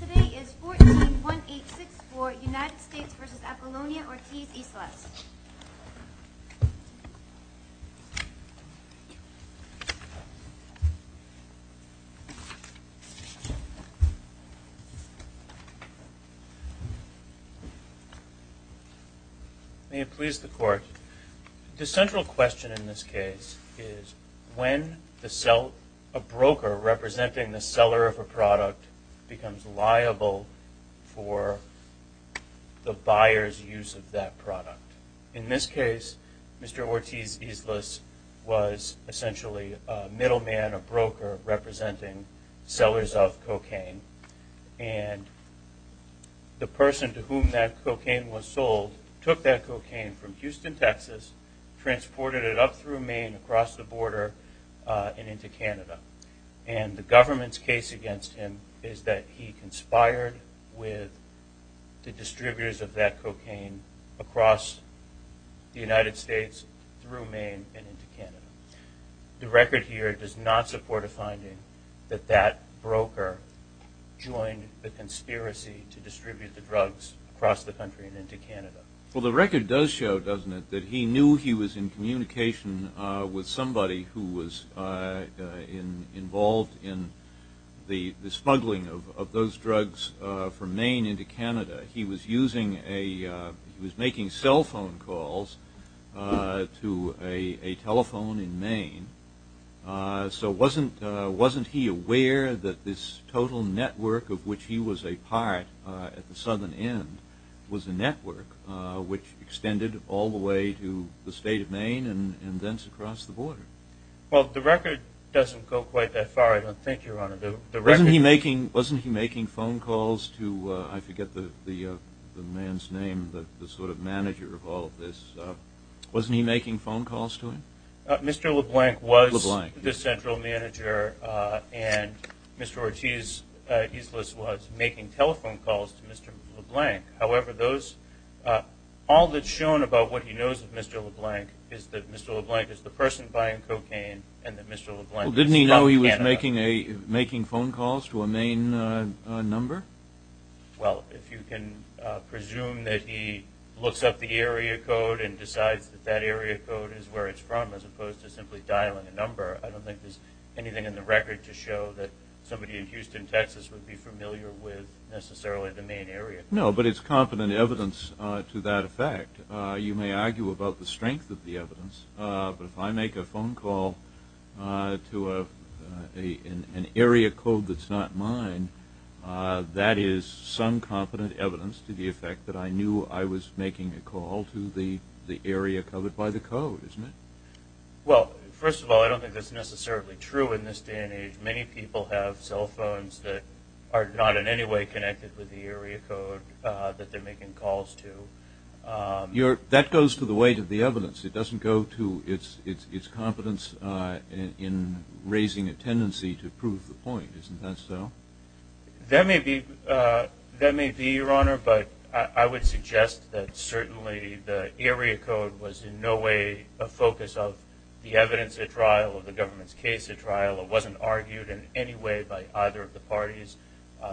The case today is 14-1864, United States v. Apollonia-Ortiz-Islas. May it please the Court. The central question in this case is when a broker representing the seller of a product becomes liable for the buyer's use of that product. In this case, Mr. Ortiz-Islas was essentially a middleman, a broker, representing sellers of cocaine, and the person to whom that cocaine was sold took that cocaine from Houston, Texas, transported it up through Maine, across the border, and into Canada. And the government's case against him is that he conspired with the distributors of that cocaine across the United States, through Maine, and into Canada. The record here does not support a finding that that broker joined the conspiracy to distribute the drugs across the country and into Canada. Well, the record does show, doesn't it, that he knew he was in communication with somebody who was involved in the smuggling of those drugs from Maine into Canada. He was making cell phone calls to a telephone in Maine. So wasn't he aware that this total network of which he was a part at the southern end was a network which extended all the way to the state of Maine and then across the border? Well, the record doesn't go quite that far, I don't think, Your Honor. Wasn't he making phone calls to, I forget the man's name, the sort of manager of all of this. Wasn't he making phone calls to him? Mr. LeBlanc was the central manager, and Mr. Ortiz was making telephone calls to Mr. LeBlanc. However, all that's shown about what he knows of Mr. LeBlanc is that Mr. LeBlanc is the person making phone calls to a Maine number. Well, if you can presume that he looks up the area code and decides that that area code is where it's from as opposed to simply dialing a number, I don't think there's anything in the record to show that somebody in Houston, Texas, would be familiar with necessarily the Maine area. No, but it's confident evidence to that effect. You may argue about the strength of the evidence, but if I make a phone call to an area code that's not mine, that is some confident evidence to the effect that I knew I was making a call to the area covered by the code, isn't it? Well, first of all, I don't think that's necessarily true in this day and age. Many people have cell phones that are not in any way connected with the area code that they're making calls to. That goes to the weight of the evidence. It doesn't go to its competence in raising a tendency to prove the point. Isn't that so? That may be, Your Honor, but I would suggest that certainly the area code was in no way a focus of the evidence at trial or the government's case at trial. It wasn't argued in any way by either of the parties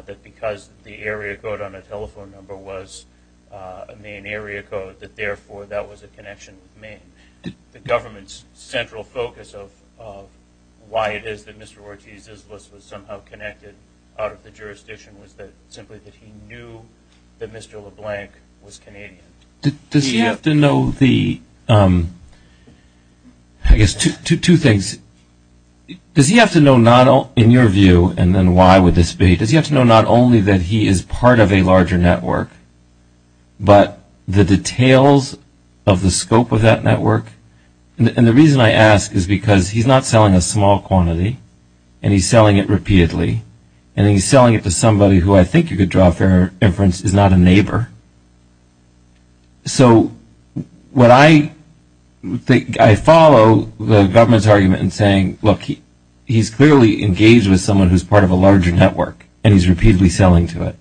that because the area code on a telephone number was a Maine area code that, therefore, that was a connection with Maine. The government's central focus of why it is that Mr. Ortiz's list was somehow connected out of the jurisdiction was simply that he knew that Mr. LeBlanc was Canadian. Does he have to know the – I guess two things. Does he have to know, in your view, and then why would this be, does he have to know not only that he is part of a larger network, but the details of the scope of that network? And the reason I ask is because he's not selling a small quantity and he's selling it repeatedly and he's selling it to somebody who I think you could draw a fair inference is not a neighbor. So what I think – I follow the government's argument in saying, look, he's clearly engaged with someone who's part of a larger network and he's repeatedly selling to it.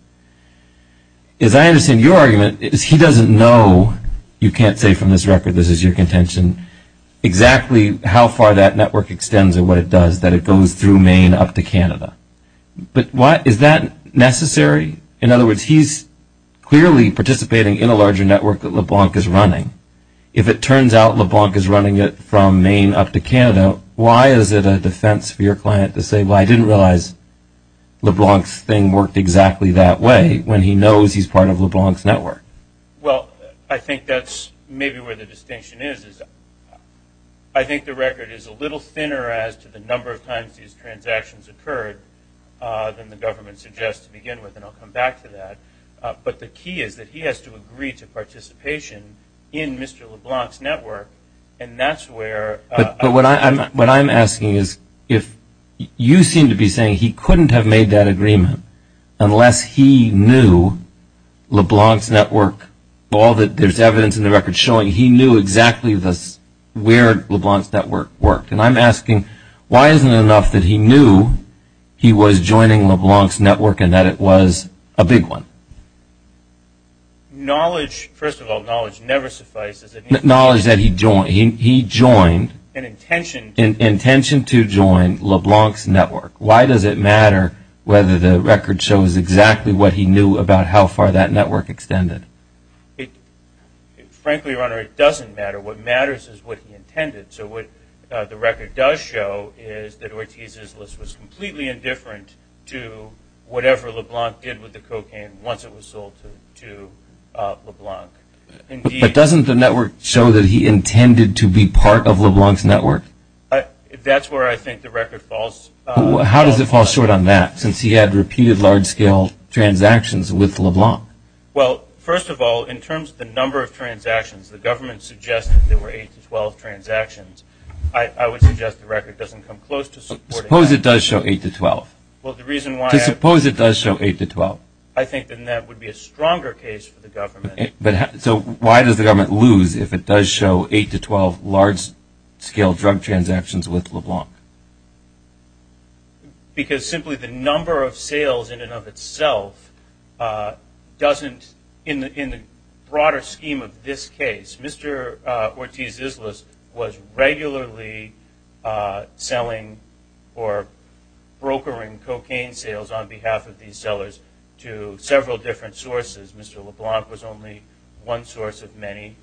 As I understand your argument, he doesn't know, you can't say from this record, this is your contention, exactly how far that network extends or what it does, that it goes through Maine up to Canada. But is that necessary? In other words, he's clearly participating in a larger network that LeBlanc is running. If it turns out LeBlanc is running it from Maine up to Canada, why is it a defense for your client to say, well, I didn't realize LeBlanc's thing worked exactly that way, when he knows he's part of LeBlanc's network? Well, I think that's maybe where the distinction is. I think the record is a little thinner as to the number of times these transactions occurred than the government suggests to begin with, and I'll come back to that. But the key is that he has to agree to participation in Mr. LeBlanc's network, and that's where – But what I'm asking is if you seem to be saying he couldn't have made that agreement unless he knew LeBlanc's network, all that there's evidence in the record showing, he knew exactly where LeBlanc's network worked. And I'm asking why isn't it enough that he knew he was joining LeBlanc's network and that it was a big one? Knowledge – first of all, knowledge never suffices. Knowledge that he joined – he joined – An intention – An intention to join LeBlanc's network. Why does it matter whether the record shows exactly what he knew about how far that network extended? Frankly, Your Honor, it doesn't matter. What matters is what he intended. So what the record does show is that Ortiz's list was completely indifferent to whatever LeBlanc did with the cocaine once it was sold to LeBlanc. But doesn't the network show that he intended to be part of LeBlanc's network? That's where I think the record falls. How does it fall short on that, since he had repeated large-scale transactions with LeBlanc? Well, first of all, in terms of the number of transactions, the government suggested there were eight to 12 transactions. I would suggest the record doesn't come close to supporting that. Suppose it does show eight to 12. Well, the reason why I – Suppose it does show eight to 12. I think then that would be a stronger case for the government. So why does the government lose if it does show eight to 12 large-scale drug transactions with LeBlanc? Because simply the number of sales in and of itself doesn't – in the broader scheme of this case, Mr. Ortiz's list was regularly selling or brokering cocaine sales on behalf of these sellers to several different sources. Mr. LeBlanc was only one source of many.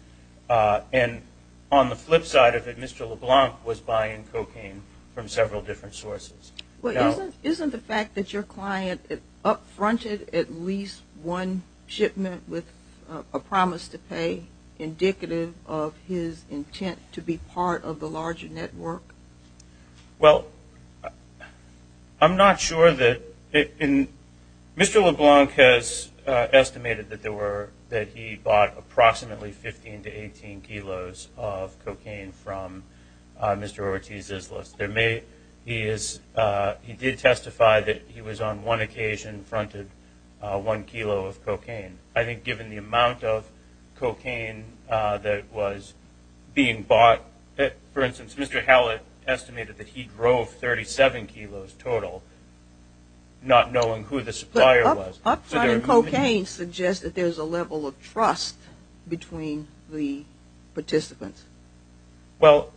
And on the flip side of it, Mr. LeBlanc was buying cocaine from several different sources. Well, isn't the fact that your client up-fronted at least one shipment with a promise to pay indicative of his intent to be part of the larger network? Well, I'm not sure that – Mr. LeBlanc has estimated that there were – that he bought approximately 15 to 18 kilos of cocaine from Mr. Ortiz's list. There may – he is – he did testify that he was on one occasion fronted one kilo of cocaine. I think given the amount of cocaine that was being bought – for instance, Mr. Hallett estimated that he drove 37 kilos total, not knowing who the supplier was. But up-fronting cocaine suggests that there's a level of trust between the participants. Well,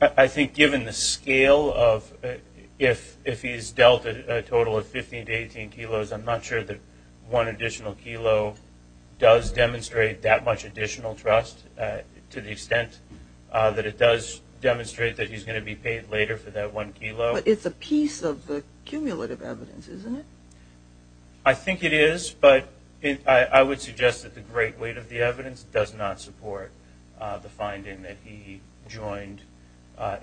I think given the scale of – if he's dealt a total of 15 to 18 kilos, I'm not sure that one additional kilo does demonstrate that much additional trust, to the extent that it does demonstrate that he's going to be paid later for that one kilo. But it's a piece of the cumulative evidence, isn't it? I think it is, but I would suggest that the great weight of the evidence does not support the finding that he joined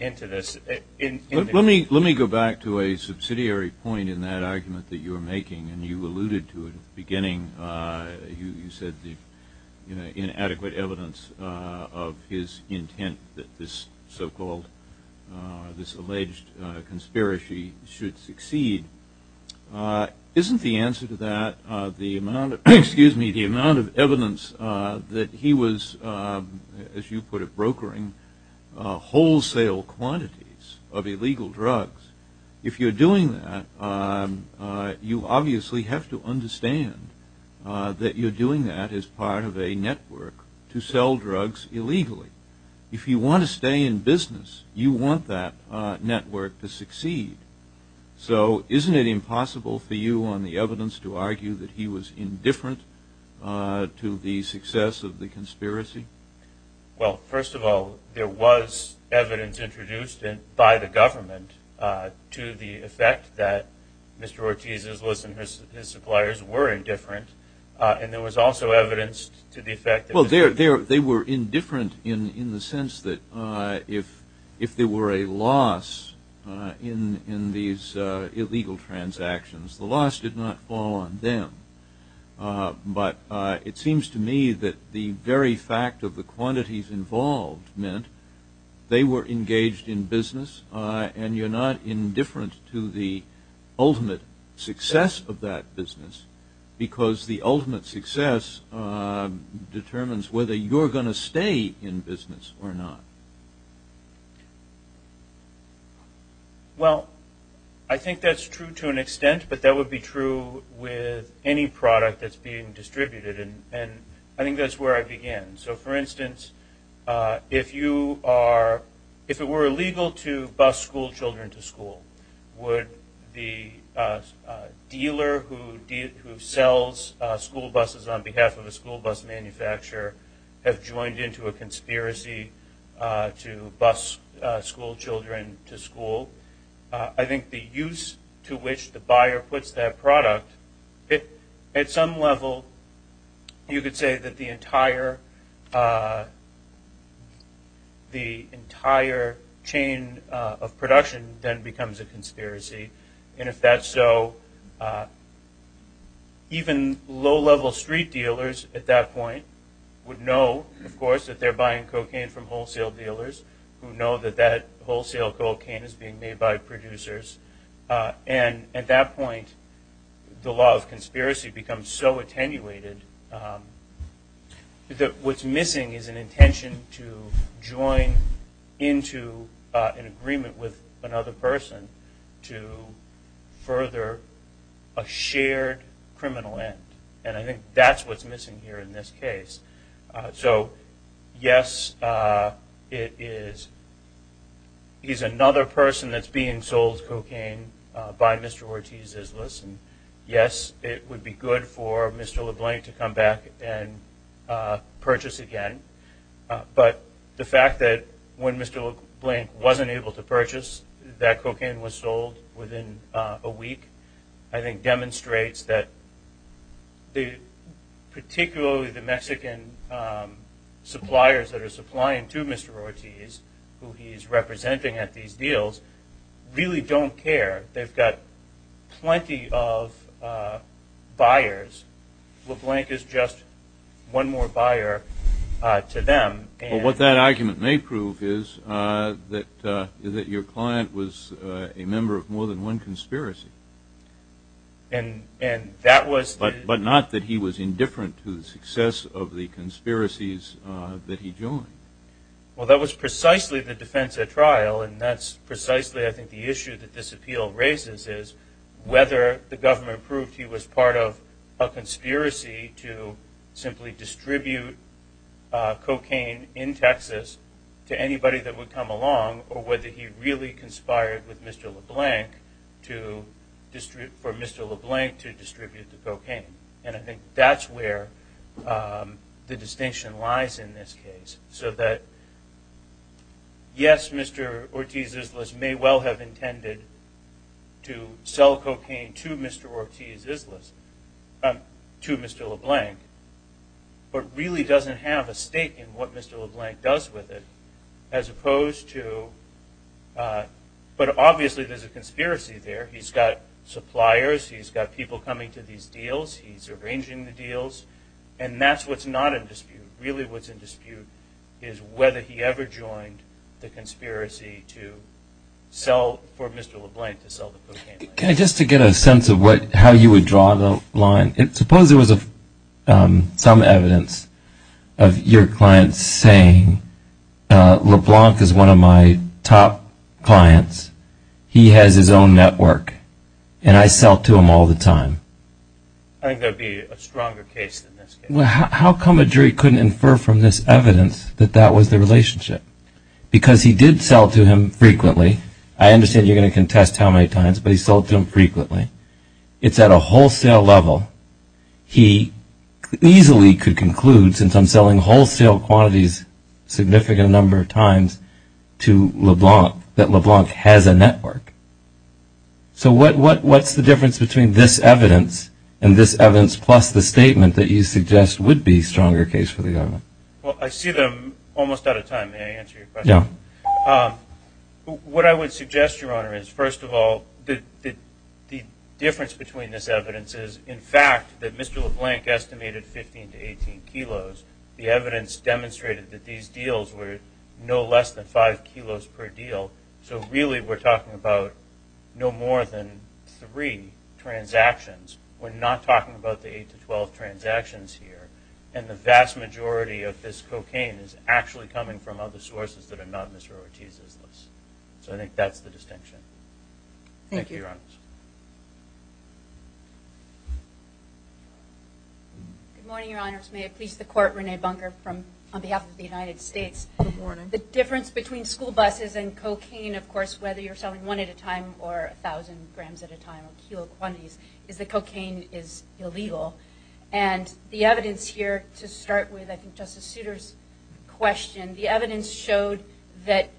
into this. Let me go back to a subsidiary point in that argument that you were making, and you alluded to it at the beginning. You said the inadequate evidence of his intent that this so-called – this alleged conspiracy should succeed. Isn't the answer to that the amount of – excuse me – the amount of evidence that he was, as you put it, brokering wholesale quantities of illegal drugs? If you're doing that, you obviously have to understand that you're doing that as part of a network to sell drugs illegally. If you want to stay in business, you want that network to succeed. So isn't it impossible for you on the evidence to argue that he was indifferent to the success of the conspiracy? Well, first of all, there was evidence introduced by the government to the effect that Mr. Ortiz's listeners, his suppliers, were indifferent. And there was also evidence to the effect that – Well, they were indifferent in the sense that if there were a loss in these illegal transactions, the loss did not fall on them. But it seems to me that the very fact of the quantities involved meant they were engaged in business, and you're not indifferent to the ultimate success of that business, because the ultimate success determines whether you're going to stay in business or not. Well, I think that's true to an extent, but that would be true with any product that's being distributed, and I think that's where I begin. So, for instance, if it were illegal to bus schoolchildren to school, would the dealer who sells school buses on behalf of a school bus manufacturer have joined into a conspiracy to bus schoolchildren to school? I think the use to which the buyer puts that product – at some level, you could say that the entire chain of production then becomes a conspiracy, and if that's so, even low-level street dealers at that point would know, of course, that they're buying cocaine from wholesale dealers who know that that wholesale cocaine is being made by producers. And at that point, the law of conspiracy becomes so attenuated that what's missing is an intention to join into an agreement with another person to further a shared criminal end, and I think that's what's missing here in this case. So, yes, it is – he's another person that's being sold cocaine by Mr. Ortiz-Izlis, and yes, it would be good for Mr. LeBlanc to come back and purchase again, but the fact that when Mr. LeBlanc wasn't able to purchase, that cocaine was sold within a week, I think demonstrates that particularly the Mexican suppliers that are supplying to Mr. Ortiz, who he's representing at these deals, really don't care. They've got plenty of buyers. LeBlanc is just one more buyer to them. Well, what that argument may prove is that your client was a member of more than one conspiracy, but not that he was indifferent to the success of the conspiracies that he joined. Well, that was precisely the defense at trial, and that's precisely, I think, the issue that this appeal raises is whether the government proved he was part of a conspiracy to simply distribute cocaine in Texas to anybody that would come along, or whether he really conspired with Mr. LeBlanc for Mr. LeBlanc to distribute the cocaine. And I think that's where the distinction lies in this case, so that, yes, Mr. Ortiz-Izlis may well have intended to sell cocaine to Mr. Ortiz-Izlis, to Mr. LeBlanc, but really doesn't have a stake in what Mr. LeBlanc does with it, as opposed to, but obviously there's a conspiracy there. He's got suppliers, he's got people coming to these deals, he's arranging the deals, and that's what's not in dispute. Really what's in dispute is whether he ever joined the conspiracy for Mr. LeBlanc to sell the cocaine. Can I just get a sense of how you would draw the line? Suppose there was some evidence of your client saying, LeBlanc is one of my top clients, he has his own network, and I sell to him all the time. I think that would be a stronger case than this case. How come a jury couldn't infer from this evidence that that was the relationship? Because he did sell to him frequently. I understand you're going to contest how many times, but he sold to him frequently. It's at a wholesale level. He easily could conclude, since I'm selling wholesale quantities a significant number of times to LeBlanc, that LeBlanc has a network. So what's the difference between this evidence and this evidence, plus the statement that you suggest would be a stronger case for the government? Well, I see that I'm almost out of time. May I answer your question? Yeah. What I would suggest, Your Honor, is, first of all, the difference between this evidence is, in fact, that Mr. LeBlanc estimated 15 to 18 kilos. The evidence demonstrated that these deals were no less than 5 kilos per deal. So really, we're talking about no more than 3 transactions. We're not talking about the 8 to 12 transactions here. And the vast majority of this cocaine is actually coming from other sources that are not Mr. Ortiz's list. So I think that's the distinction. Thank you. Thank you, Your Honors. Good morning, Your Honors. May I please the Court, Renee Bunker, on behalf of the United States. Good morning. The difference between school buses and cocaine, of course, whether you're selling one at a time or 1,000 grams at a time or kilo quantities, is that cocaine is illegal. And the evidence here, to start with, I think, Justice Souter's question, the evidence showed that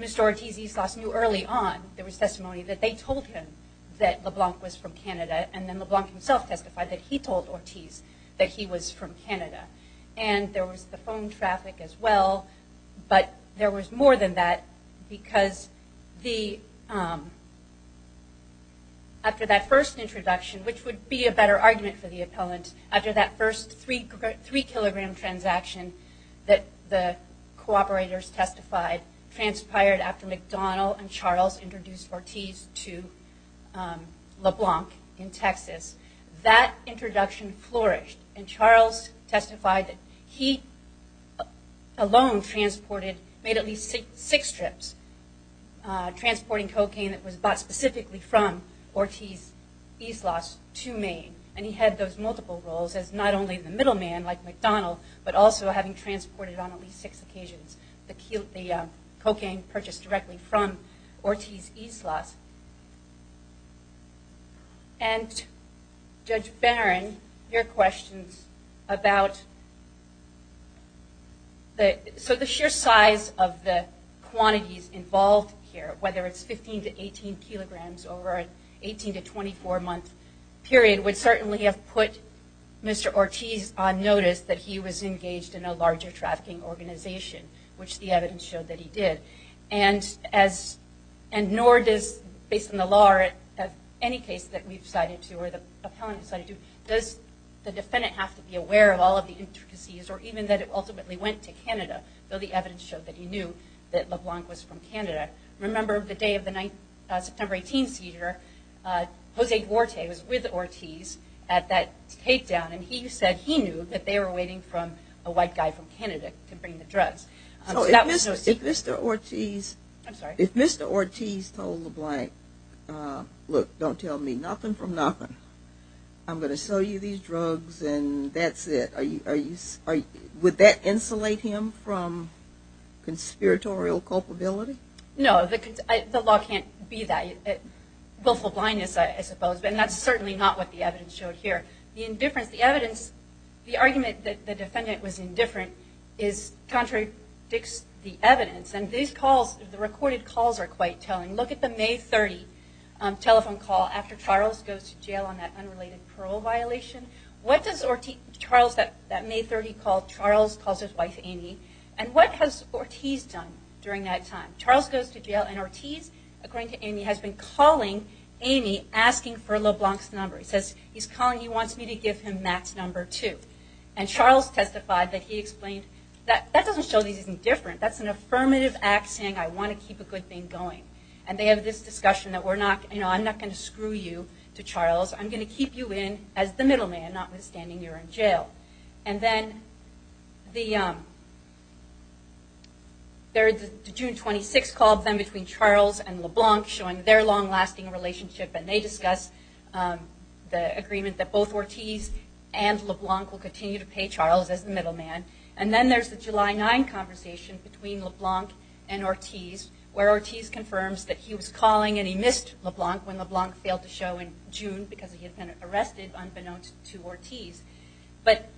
Mr. Ortiz Eastloss knew early on, there was testimony, that they told him that LeBlanc was from Canada. And then LeBlanc himself testified that he told Ortiz that he was from Canada. And there was the phone traffic as well, but there was more than that because after that first introduction, which would be a better argument for the appellant, after that first 3-kilogram transaction that the cooperators testified transpired after McDonald and Charles introduced Ortiz to LeBlanc in Texas, that introduction flourished. And Charles testified that he alone transported, made at least six trips, transporting cocaine that was bought specifically from Ortiz Eastloss to Maine. And he had those multiple roles as not only the middleman, like McDonald, but also having transported on at least six occasions the cocaine purchased directly from Ortiz Eastloss. And Judge Barron, your questions about the sheer size of the quantities involved here, whether it's 15 to 18 kilograms over an 18 to 24-month period, would certainly have put Mr. Ortiz on notice that he was engaged in a larger trafficking organization, which the evidence showed that he did. And nor does, based on the law or any case that we've cited to or the appellant has cited to, does the defendant have to be aware of all of the intricacies or even that it ultimately went to Canada, though the evidence showed that he knew that LeBlanc was from Canada. Remember the day of the September 18 seizure, Jose Duarte was with Ortiz at that takedown, and he said he knew that they were waiting for a white guy from Canada to bring the drugs. So if Mr. Ortiz told LeBlanc, look, don't tell me nothing from nothing, I'm going to sell you these drugs and that's it, would that insulate him from conspiratorial culpability? No, the law can't be that. Willful blindness, I suppose, but that's certainly not what the evidence showed here. The indifference, the evidence, the argument that the defendant was indifferent contradicts the evidence, and these calls, the recorded calls are quite telling. Look at the May 30 telephone call after Charles goes to jail on that unrelated parole violation. What does Charles, that May 30 call, Charles calls his wife Amy, and what has Ortiz done during that time? Charles goes to jail and Ortiz, according to Amy, has been calling Amy asking for LeBlanc's number. He says, he's calling, he wants me to give him Matt's number too. And Charles testified that he explained, that doesn't show that he's indifferent, that's an affirmative act saying I want to keep a good thing going. And they have this discussion that we're not, you know, I'm not going to screw you to Charles, I'm going to keep you in as the middle man, notwithstanding you're in jail. LeBlanc showing their long-lasting relationship, and they discuss the agreement that both Ortiz and LeBlanc will continue to pay Charles as the middle man. And then there's the July 9 conversation between LeBlanc and Ortiz, where Ortiz confirms that he was calling and he missed LeBlanc when LeBlanc failed to show in June because he had been arrested unbeknownst to Ortiz. But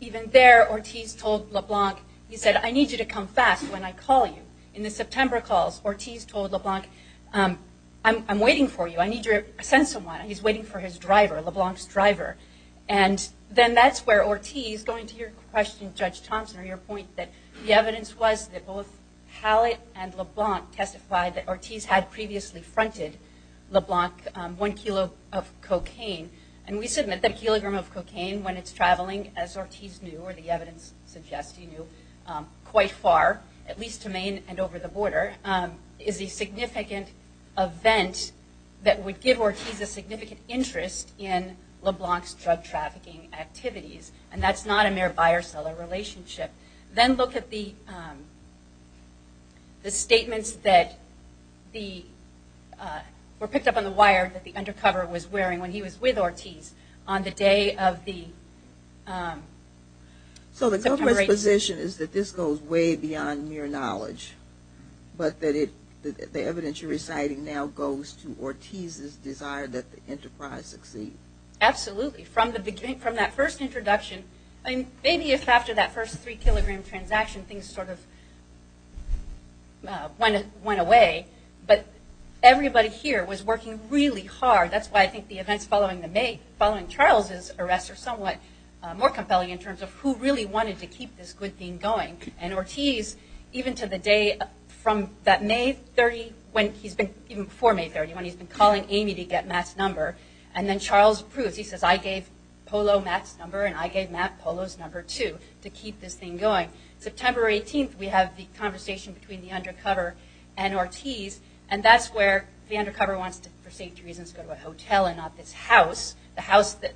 even there, Ortiz told LeBlanc, he said, I need you to come fast when I call you. In the September calls, Ortiz told LeBlanc, I'm waiting for you, I need you to send someone. He's waiting for his driver, LeBlanc's driver. And then that's where Ortiz, going to your question, Judge Thompson, or your point that the evidence was that both Hallett and LeBlanc testified that Ortiz had previously fronted LeBlanc one kilo of cocaine. And we submit that a kilogram of cocaine when it's traveling, as Ortiz knew, or the evidence suggests he knew, quite far, at least to Maine and over the border, is a significant event that would give Ortiz a significant interest in LeBlanc's drug trafficking activities. And that's not a mere buyer-seller relationship. Then look at the statements that were picked up on the wire that the undercover was wearing when he was with Ortiz on the day of the September 18th. So the government's position is that this goes way beyond mere knowledge, but that the evidence you're reciting now goes to Ortiz's desire that the enterprise succeed. Absolutely. From that first introduction, maybe if after that first three-kilogram transaction, things sort of went away, but everybody here was working really hard. That's why I think the events following Charles's arrest are somewhat more compelling in terms of who really wanted to keep this good thing going. And Ortiz, even to the day from that May 30, even before May 30, when he's been calling Amy to get Matt's number, and then Charles approves. He says, I gave Polo Matt's number, and I gave Matt Polo's number, too, to keep this thing going. September 18th, we have the conversation between the undercover and Ortiz, and that's where the undercover wants to, for safety reasons, go to a hotel and not this house, the house that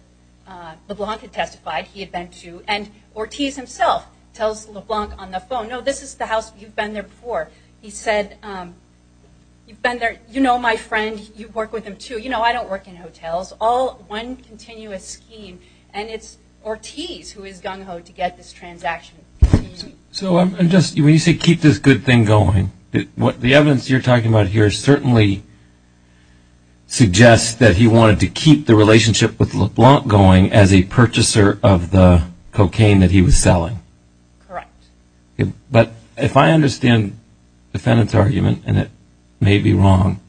LeBlanc had testified he had been to. And Ortiz himself tells LeBlanc on the phone, no, this is the house you've been there before. He said, you've been there, you know my friend, you work with him, too. You know I don't work in hotels. All one continuous scheme, and it's Ortiz who is gung-ho to get this transaction. So when you say keep this good thing going, the evidence you're talking about here certainly suggests that he wanted to keep the relationship with LeBlanc going as a purchaser of the cocaine that he was selling. Correct. But if I understand the defendant's argument, and it may be wrong,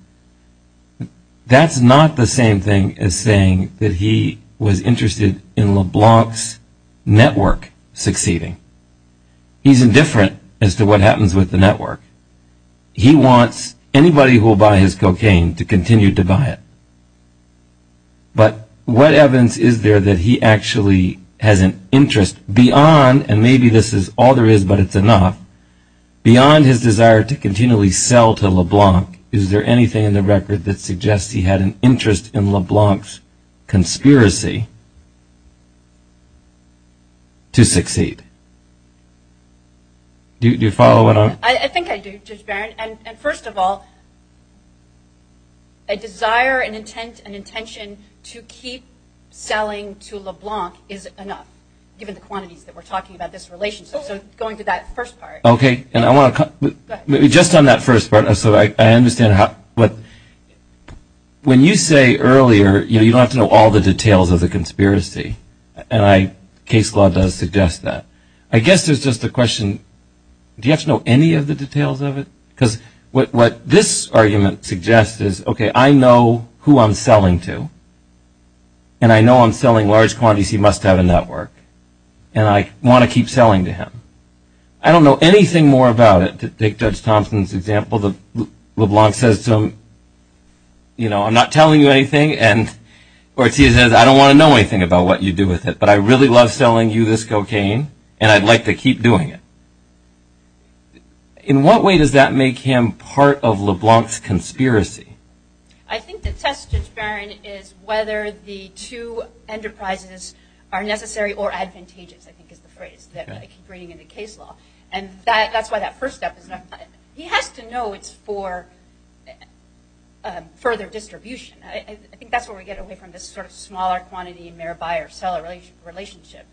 that's not the same thing as saying that he was interested in LeBlanc's network succeeding. He's indifferent as to what happens with the network. He wants anybody who will buy his cocaine to continue to buy it. But what evidence is there that he actually has an interest beyond, and maybe this is all there is but it's enough, beyond his desire to continually sell to LeBlanc, is there anything in the record that suggests he had an interest in LeBlanc's conspiracy to succeed? Do you follow what I'm? I think I do, Judge Barron. And first of all, a desire, an intent, an intention to keep selling to LeBlanc is enough, given the quantities that we're talking about this relationship. So going to that first part. Okay. Just on that first part, so I understand. When you say earlier, you don't have to know all the details of the conspiracy, and case law does suggest that. I guess there's just a question, do you have to know any of the details of it? Because what this argument suggests is, okay, I know who I'm selling to, and I know I'm selling large quantities. He must have a network, and I want to keep selling to him. I don't know anything more about it. Take Judge Thompson's example, LeBlanc says to him, you know, I'm not telling you anything, and Ortiz says, I don't want to know anything about what you do with it, but I really love selling you this cocaine, and I'd like to keep doing it. In what way does that make him part of LeBlanc's conspiracy? I think the test, Judge Barron, is whether the two enterprises are necessary or advantageous, I think is the phrase that I keep reading in the case law, and that's why that first step is not. He has to know it's for further distribution. I think that's where we get away from this sort of smaller quantity, mere buyer-seller relationship.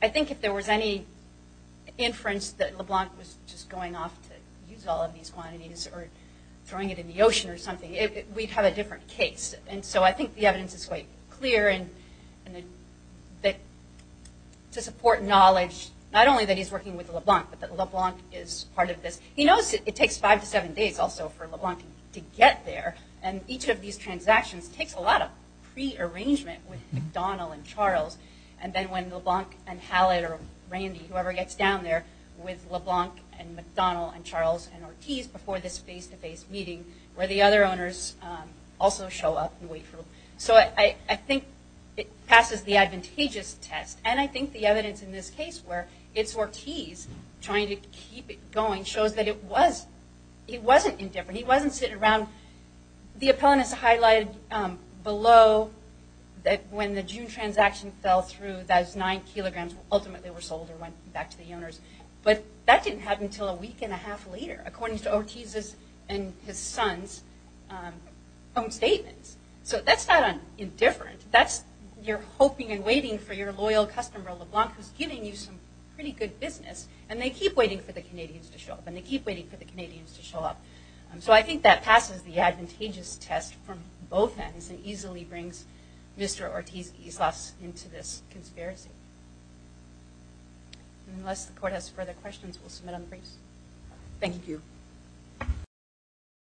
I think if there was any inference that LeBlanc was just going off to use all of these quantities or throwing it in the ocean or something, we'd have a different case. I think the evidence is quite clear to support knowledge, not only that he's working with LeBlanc, but that LeBlanc is part of this. He knows it takes five to seven days also for LeBlanc to get there, and each of these transactions takes a lot of prearrangement with McDonald and Charles, and then when LeBlanc and Hallett or Randy, whoever gets down there, with LeBlanc and McDonald and Charles and Ortiz before this face-to-face meeting where the other owners also show up and wait for them. So I think it passes the advantageous test, and I think the evidence in this case where it's Ortiz trying to keep it going shows that it wasn't indifferent. He wasn't sitting around. The appellant is highlighted below that when the June transaction fell through, those nine kilograms ultimately were sold and went back to the owners, but that didn't happen until a week and a half later. According to Ortiz's and his son's own statements. So that's not indifferent. You're hoping and waiting for your loyal customer, LeBlanc, who's giving you some pretty good business, and they keep waiting for the Canadians to show up and they keep waiting for the Canadians to show up. So I think that passes the advantageous test from both ends and easily brings Mr. Ortiz Islas into this conspiracy. Unless the Court has further questions, we'll submit on the briefs. Thank you.